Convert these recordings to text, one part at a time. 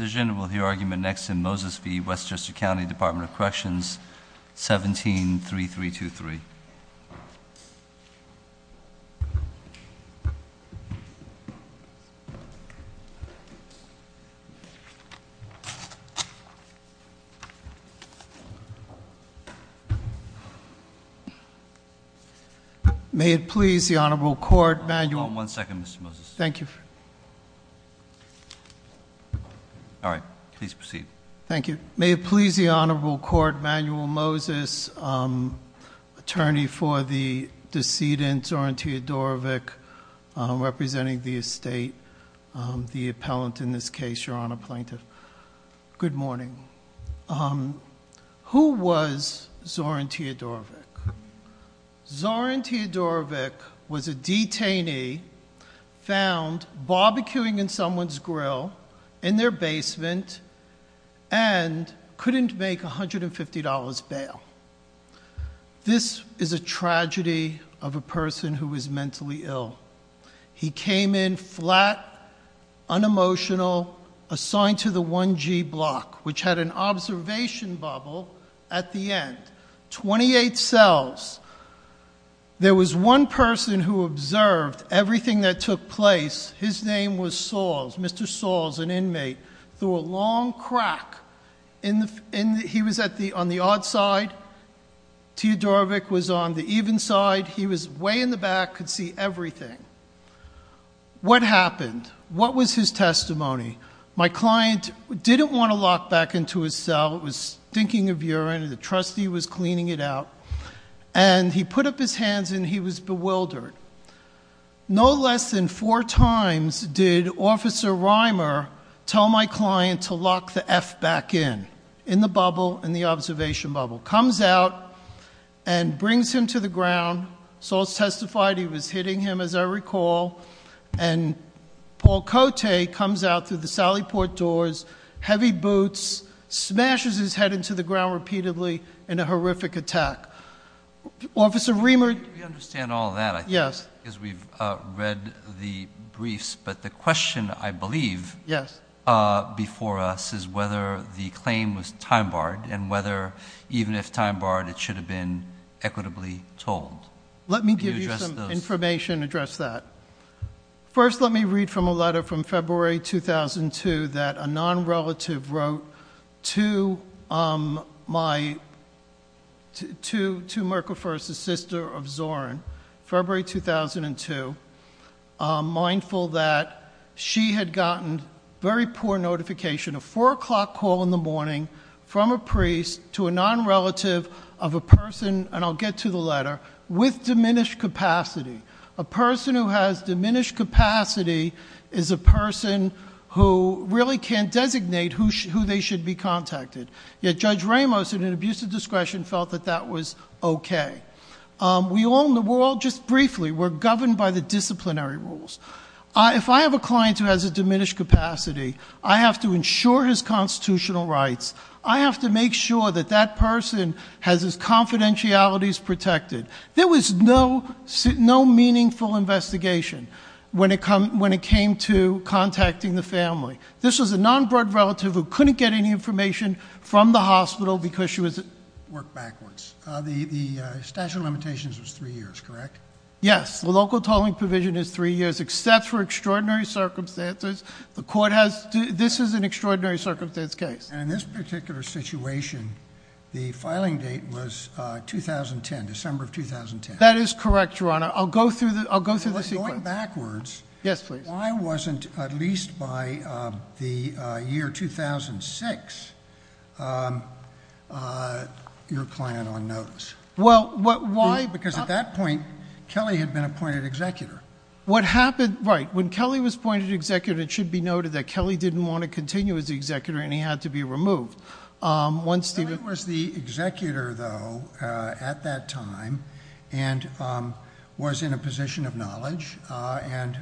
Will hear argument next in Moses v. Westchester County Department of Corrections, 173323. May it please the Honorable Court, manual- Hold on one second, Mr. Moses. Thank you. All right, please proceed. Thank you. May it please the Honorable Court, manual Moses, attorney for the decedent Zoran Teodorovic, representing the estate, the appellant in this case, your Honor, plaintiff. Good morning. Who was Zoran Teodorovic? Zoran Teodorovic was a detainee found barbecuing in someone's grill in their basement and couldn't make $150 bail. This is a tragedy of a person who is mentally ill. He came in flat, unemotional, assigned to the 1G block, which had an observation bubble at the end. 28 cells. There was one person who observed everything that took place. His name was Soles. Mr. Soles, an inmate, threw a long crack, and he was on the odd side. Teodorovic was on the even side. He was way in the back, could see everything. What happened? What was his testimony? My client didn't want to lock back into his cell. It was stinking of urine, and the trustee was cleaning it out. And he put up his hands, and he was bewildered. No less than four times did Officer Reimer tell my client to lock the F back in, in the bubble, in the observation bubble, comes out and brings him to the ground. Soles testified he was hitting him, as I recall. And Paul Cote comes out through the Sally Port doors, heavy boots, smashes his head into the ground repeatedly in a horrific attack. Officer Reimer- We understand all of that, I think, because we've read the briefs. But the question, I believe, before us is whether the claim was time barred, and whether, even if time barred, it should have been equitably told. Let me give you some information to address that. First, let me read from a letter from February 2002 that a non-relative wrote to my, to Mirka Furst's sister of Zoran, February 2002. Mindful that she had gotten very poor notification, a four o'clock call in the morning from a priest to a non-relative of a person, and I'll get to the letter, with diminished capacity. A person who has diminished capacity is a person who really can't designate who they should be contacted. Yet Judge Ramos, in an abuse of discretion, felt that that was okay. We all, just briefly, we're governed by the disciplinary rules. If I have a client who has a diminished capacity, I have to ensure his constitutional rights. I have to make sure that that person has his confidentialities protected. There was no meaningful investigation when it came to contacting the family. This was a non-bred relative who couldn't get any information from the hospital because she was- Worked backwards. The statute of limitations was three years, correct? Yes, the local tolling provision is three years, except for extraordinary circumstances. The court has, this is an extraordinary circumstance case. And in this particular situation, the filing date was 2010, December of 2010. That is correct, Your Honor. I'll go through the sequence. If it was going backwards, why wasn't, at least by the year 2006, your client on notice? Well, why- Because at that point, Kelly had been appointed executor. What happened, right. When Kelly was appointed executor, it should be noted that Kelly didn't want to continue as the executor and he had to be removed. Once the- Kelly was the executor, though, at that time, and was in a position of knowledge and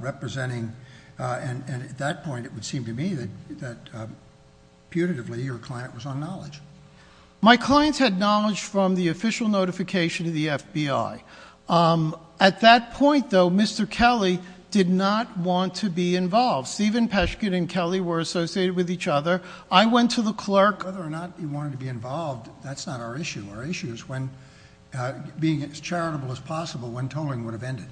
representing, and at that point, it would seem to me that putatively, your client was on knowledge. Okay, at that point, though, Mr. Kelly did not want to be involved. Stephen Peshkin and Kelly were associated with each other. I went to the clerk- Whether or not he wanted to be involved, that's not our issue. Our issue is when, being as charitable as possible, when tolling would have ended.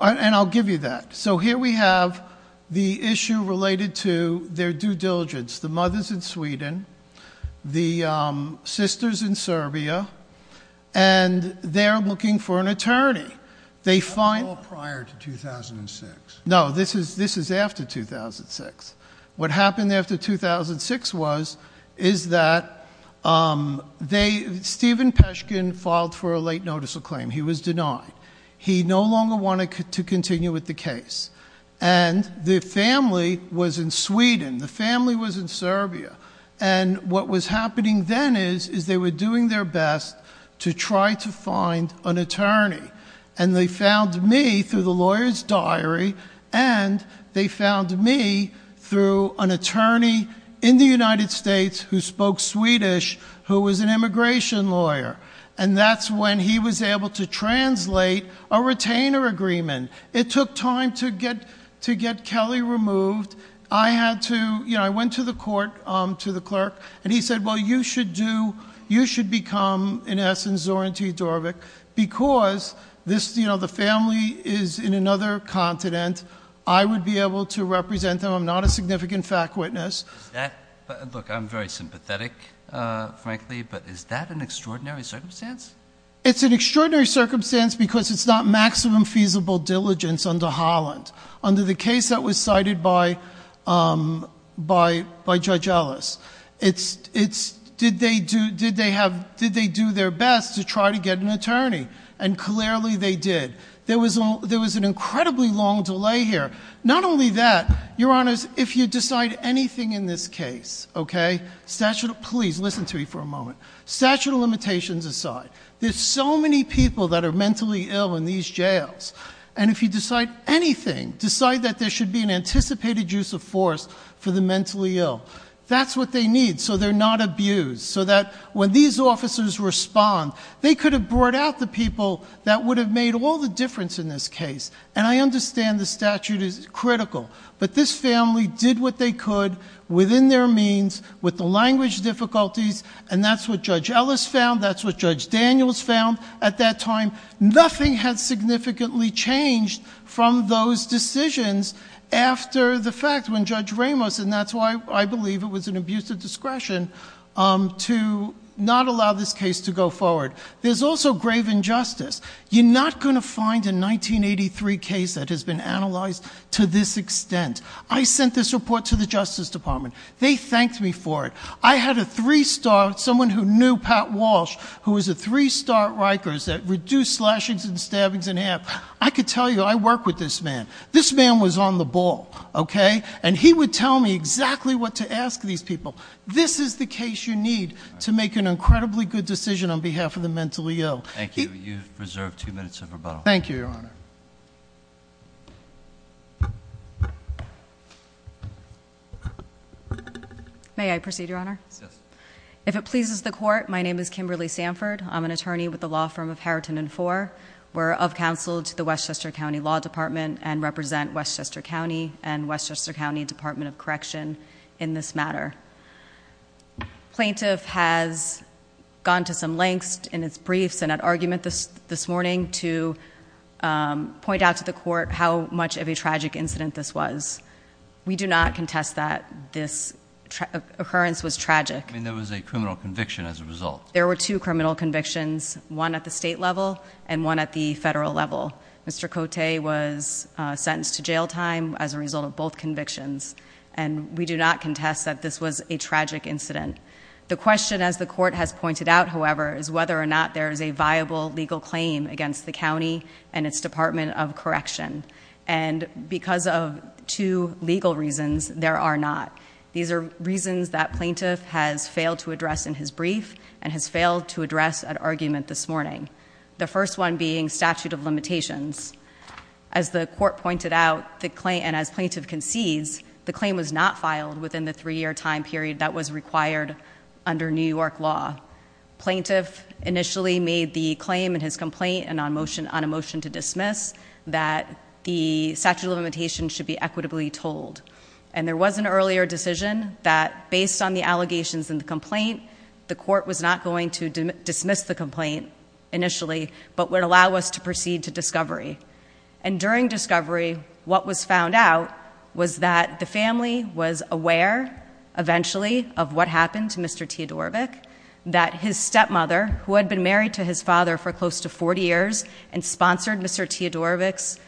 And I'll give you that. So here we have the issue related to their due diligence. The mothers in Sweden, the sisters in Serbia, and they're looking for an attorney. They find- That was all prior to 2006. No, this is after 2006. What happened after 2006 was, is that Stephen Peshkin filed for a late notice of claim. He was denied. He no longer wanted to continue with the case. And the family was in Sweden. The family was in Serbia. And what was happening then is, is they were doing their best to try to find an attorney. And they found me through the lawyer's diary, and they found me through an attorney in the United States who spoke Swedish, who was an immigration lawyer. And that's when he was able to translate a retainer agreement. It took time to get Kelly removed. I went to the court, to the clerk, and he said, well, you should do, you should become, in essence, Zoran T. Dorvik, because the family is in another continent. I would be able to represent them. I'm not a significant fact witness. Look, I'm very sympathetic, frankly, but is that an extraordinary circumstance? It's an extraordinary circumstance because it's not maximum feasible diligence under Holland. Under the case that was cited by Judge Ellis, it's did they do their best to try to get an attorney? And clearly they did. There was an incredibly long delay here. Not only that, Your Honors, if you decide anything in this case, okay? Statute of, please listen to me for a moment. Statute of limitations aside, there's so many people that are mentally ill in these jails. And if you decide anything, decide that there should be an anticipated use of force for the mentally ill. That's what they need, so they're not abused, so that when these officers respond, they could have brought out the people that would have made all the difference in this case. And I understand the statute is critical, but this family did what they could within their means, with the language difficulties, and that's what Judge Ellis found, that's what Judge Daniels found. At that time, nothing had significantly changed from those decisions after the fact, when Judge Ramos, and that's why I believe it was an abuse of discretion, to not allow this case to go forward. There's also grave injustice. You're not going to find a 1983 case that has been analyzed to this extent. I sent this report to the Justice Department. They thanked me for it. I had a three-star, someone who knew Pat Walsh, who was a three-star Rikers that reduced slashings and stabbings in half. I could tell you, I work with this man. This man was on the ball, okay? And he would tell me exactly what to ask these people. This is the case you need to make an incredibly good decision on behalf of the mentally ill. Thank you, you've reserved two minutes of rebuttal. Thank you, Your Honor. May I proceed, Your Honor? Yes. If it pleases the court, my name is Kimberly Sanford. I'm an attorney with the law firm of Harriton and Four. We're of counsel to the Westchester County Law Department and represent Westchester County and Westchester County Department of Correction in this matter. Plaintiff has gone to some lengths in his briefs and argument this morning to point out to the court how much of a tragic incident this was. We do not contest that this occurrence was tragic. I mean, there was a criminal conviction as a result. There were two criminal convictions, one at the state level and one at the federal level. Mr. Cote was sentenced to jail time as a result of both convictions. And we do not contest that this was a tragic incident. The question as the court has pointed out, however, is whether or not there is a viable legal claim against the county and its department of correction. And because of two legal reasons, there are not. These are reasons that plaintiff has failed to address in his brief and has failed to address an argument this morning. The first one being statute of limitations. As the court pointed out and as plaintiff concedes, the claim was not filed within the three year time period that was required under New York law. Plaintiff initially made the claim in his complaint and on a motion to dismiss that the statute of limitations should be equitably told. And there was an earlier decision that based on the allegations in the complaint, the court was not going to dismiss the complaint initially, but would allow us to proceed to discovery. And during discovery, what was found out was that the family was aware, eventually, of what happened to Mr. Teodorovic. That his stepmother, who had been married to his father for close to 40 years and sponsored Mr. Teodorovic's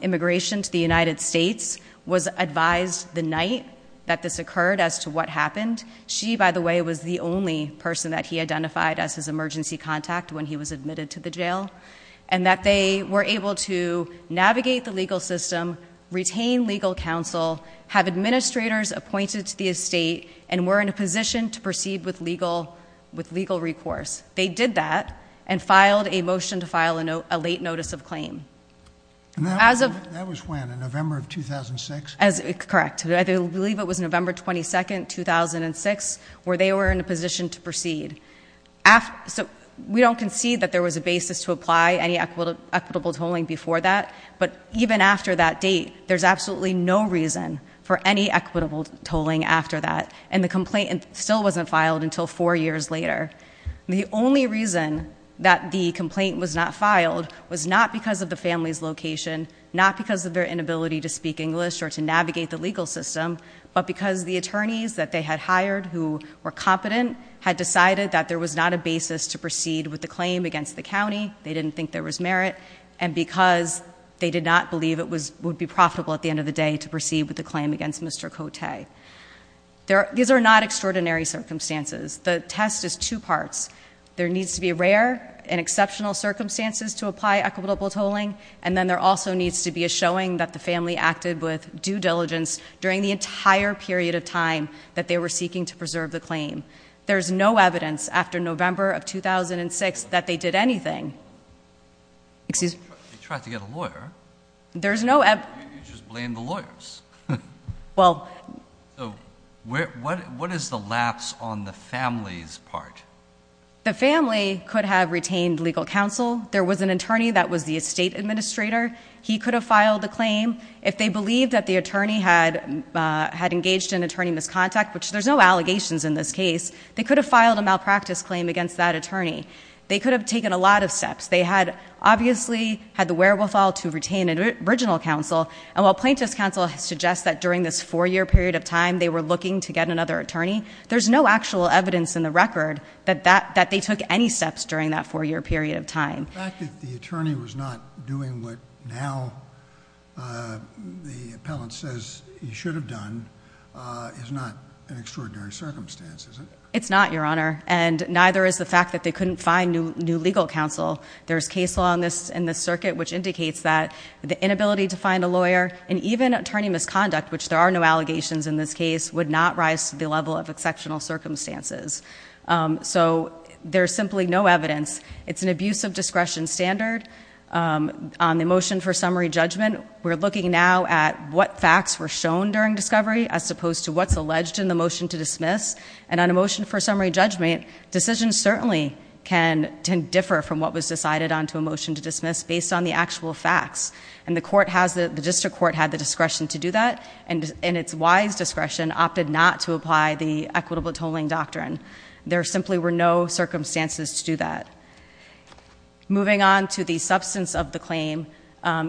immigration to the United States, was advised the night that this occurred as to what happened. She, by the way, was the only person that he identified as his emergency contact when he was admitted to the jail. And that they were able to navigate the legal system, retain legal counsel, have administrators appointed to the estate, and were in a position to proceed with legal recourse. They did that, and filed a motion to file a late notice of claim. As of- That was when, in November of 2006? Correct. I believe it was November 22nd, 2006, where they were in a position to proceed. We don't concede that there was a basis to apply any equitable tolling before that. But even after that date, there's absolutely no reason for any equitable tolling after that. And the complaint still wasn't filed until four years later. The only reason that the complaint was not filed was not because of the family's location, not because of their inability to speak English or to navigate the legal system, but because the attorneys that they had hired who were competent had decided that there was not a basis to proceed with the claim against the county. They didn't think there was merit. And because they did not believe it would be profitable at the end of the day to proceed with the claim against Mr. Cote. These are not extraordinary circumstances. The test is two parts. There needs to be rare and exceptional circumstances to apply equitable tolling. And then there also needs to be a showing that the family acted with due diligence during the entire period of time that they were seeking to preserve the claim. There's no evidence after November of 2006 that they did anything. Excuse me. They tried to get a lawyer. There's no evidence. You just blamed the lawyers. Well. So what is the lapse on the family's part? The family could have retained legal counsel. There was an attorney that was the estate administrator. He could have filed the claim. If they believed that the attorney had engaged in attorney misconduct, which there's no allegations in this case, they could have filed a malpractice claim against that attorney. They could have taken a lot of steps. They had obviously had the wherewithal to retain an original counsel. And while plaintiff's counsel suggests that during this four year period of time they were looking to get another attorney, there's no actual evidence in the record that they took any steps during that four year period of time. The fact that the attorney was not doing what now the appellant says he should have done is not an extraordinary circumstance, is it? It's not, your honor. And neither is the fact that they couldn't find new legal counsel. There's case law in this circuit which indicates that the inability to find a lawyer and even attorney misconduct, which there are no allegations in this case, would not rise to the level of exceptional circumstances. So there's simply no evidence. It's an abuse of discretion standard. On the motion for summary judgment, we're looking now at what facts were shown during discovery as opposed to what's alleged in the motion to dismiss. And on a motion for summary judgment, decisions certainly can differ from what was decided onto a motion to dismiss based on the actual facts. And the district court had the discretion to do that, and its wise discretion opted not to apply the equitable tolling doctrine. There simply were no circumstances to do that. Moving on to the substance of the claim,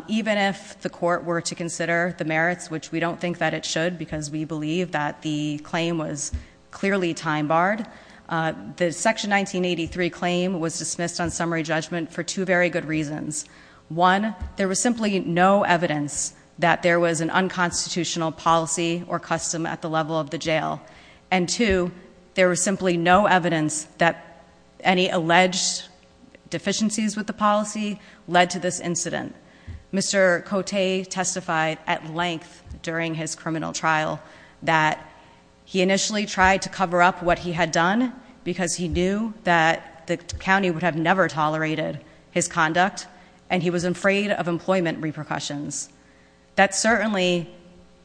even if the court were to consider the merits, which we don't think that it should because we believe that the claim was clearly time barred. The section 1983 claim was dismissed on summary judgment for two very good reasons. One, there was simply no evidence that there was an unconstitutional policy or custom at the level of the jail. And two, there was simply no evidence that any alleged deficiencies with the policy led to this incident. Mr. Cote testified at length during his criminal trial that he initially tried to cover up what he had done because he knew that the county would have never tolerated his conduct and he was afraid of employment repercussions. That certainly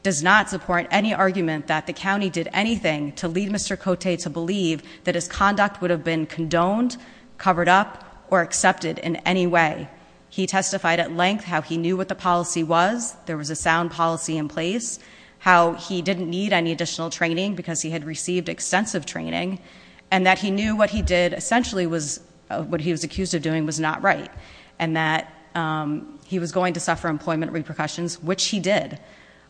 does not support any argument that the county did anything to lead Mr. Cote to believe that his conduct would have been condoned, covered up, or accepted in any way. He testified at length how he knew what the policy was, there was a sound policy in place, how he didn't need any additional training because he had received extensive training, and that he knew what he did essentially was, what he was accused of doing was not right. And that he was going to suffer employment repercussions, which he did.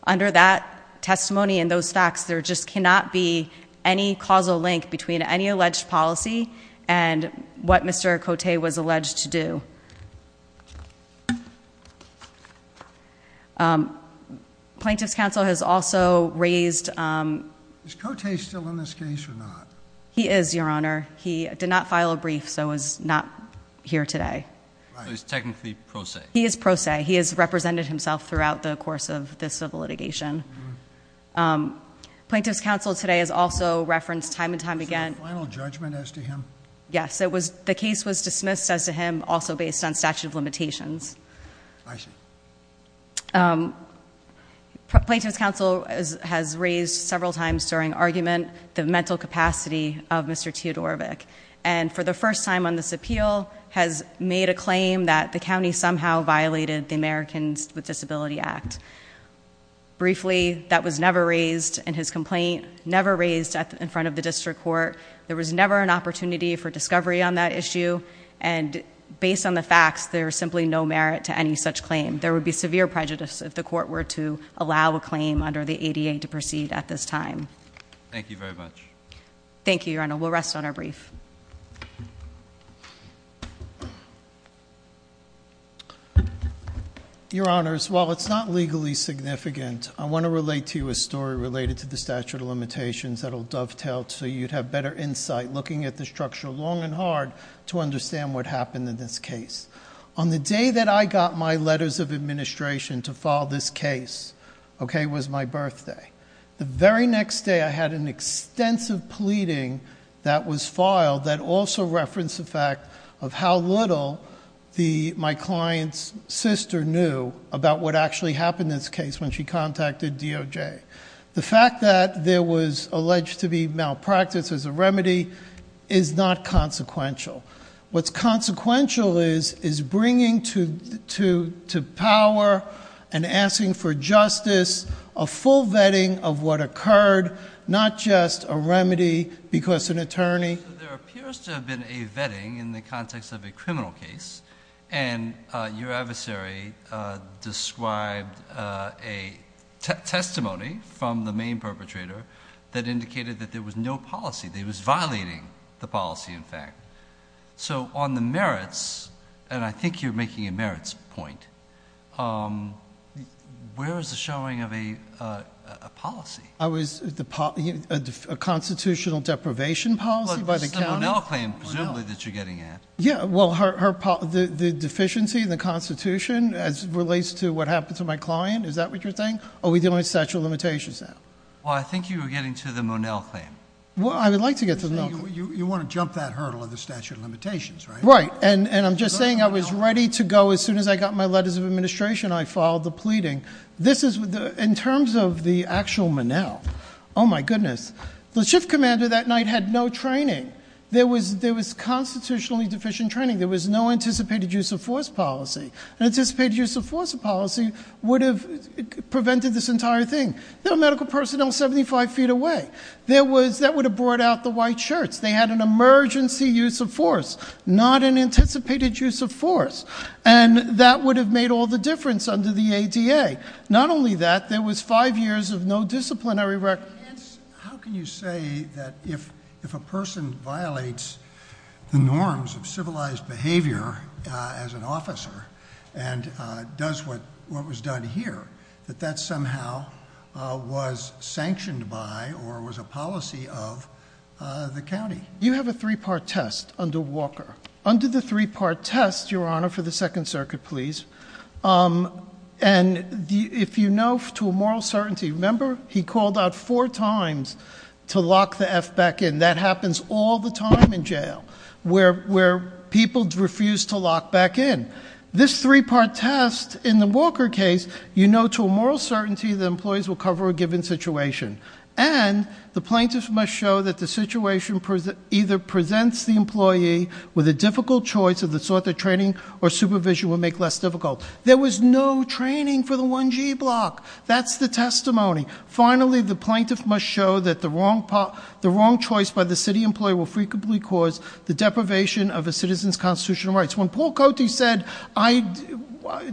Under that testimony and those facts, there just cannot be any causal link between any alleged policy and what Mr. Cote was alleged to do. Plaintiff's counsel has also raised- Is Cote still in this case or not? He is, your honor. He did not file a brief, so he's not here today. So he's technically pro se? He is pro se. He has represented himself throughout the course of this civil litigation. Plaintiff's counsel today has also referenced time and time again- Is this a final judgment as to him? Yes, the case was dismissed as to him, also based on statute of limitations. I see. Plaintiff's counsel has raised several times during argument, the mental capacity of Mr. Teodorovic, and for the first time on this appeal, has made a claim that the county somehow violated the Americans with Disability Act. Briefly, that was never raised in his complaint, never raised in front of the district court. There was never an opportunity for discovery on that issue, and based on the facts, there is simply no merit to any such claim. There would be severe prejudice if the court were to allow a claim under the ADA to proceed at this time. Thank you very much. Thank you, your honor. We'll rest on our brief. Your honors, while it's not legally significant, I want to relate to you a story related to the statute of limitations that will dovetail so you'd have better insight looking at the structure long and hard to understand what happened in this case. On the day that I got my letters of administration to file this case, okay, was my birthday. The very next day I had an extensive pleading that was filed that also referenced the fact of how little my client's sister knew about what actually happened in this case when she contacted DOJ. The fact that there was alleged to be malpractice as a remedy is not consequential. What's consequential is bringing to power and full vetting of what occurred, not just a remedy because an attorney. There appears to have been a vetting in the context of a criminal case, and your adversary described a testimony from the main perpetrator that indicated that there was no policy, they was violating the policy in fact. So on the merits, and I think you're making a merits point, where is the showing of a policy? I was, a constitutional deprivation policy by the county? Well, it's the Monell claim presumably that you're getting at. Yeah, well, the deficiency in the constitution as it relates to what happened to my client, is that what you're saying? Are we dealing with statute of limitations now? Well, I think you were getting to the Monell claim. Well, I would like to get to the Monell claim. You want to jump that hurdle of the statute of limitations, right? Right, and I'm just saying I was ready to go as soon as I got my letters of administration, I followed the pleading. This is, in terms of the actual Monell, my goodness. The shift commander that night had no training. There was constitutionally deficient training. There was no anticipated use of force policy. Anticipated use of force policy would have prevented this entire thing. There were medical personnel 75 feet away. That would have brought out the white shirts. They had an emergency use of force, not an anticipated use of force. And that would have made all the difference under the ADA. Not only that, there was five years of no disciplinary record. How can you say that if a person violates the norms of civilized behavior as an officer and does what was done here, that that somehow was sanctioned by or was a policy of the county? You have a three part test under Walker. Under the three part test, your honor, for the second circuit please. And if you know to a moral certainty, remember he called out four times to lock the F back in. That happens all the time in jail, where people refuse to lock back in. This three part test in the Walker case, you know to a moral certainty the employees will cover a given situation. And the plaintiff must show that the situation either presents the employee with a difficult choice of the sort that training or supervision will make less difficult. There was no training for the 1G block. That's the testimony. Finally, the plaintiff must show that the wrong choice by the city employee will frequently cause the deprivation of a citizen's constitutional rights. When Paul Cote said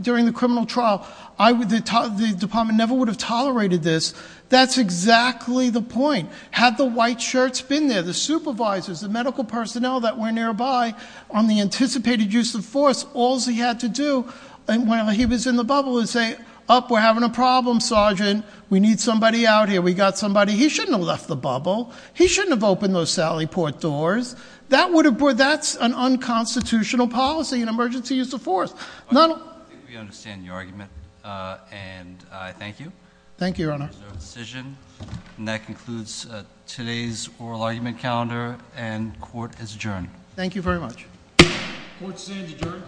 during the criminal trial, the department never would have tolerated this. That's exactly the point. Had the white shirts been there, the supervisors, the medical personnel that were nearby on the anticipated use of force, all's he had to do when he was in the bubble is say, up, we're having a problem, sergeant. We need somebody out here. We got somebody. He shouldn't have left the bubble. He shouldn't have opened those sally port doors. That's an unconstitutional policy, an emergency use of force. I think we understand your argument, and I thank you. Thank you, your honor. There's no decision, and that concludes today's oral argument calendar, and court is adjourned. Thank you very much. Court is adjourned.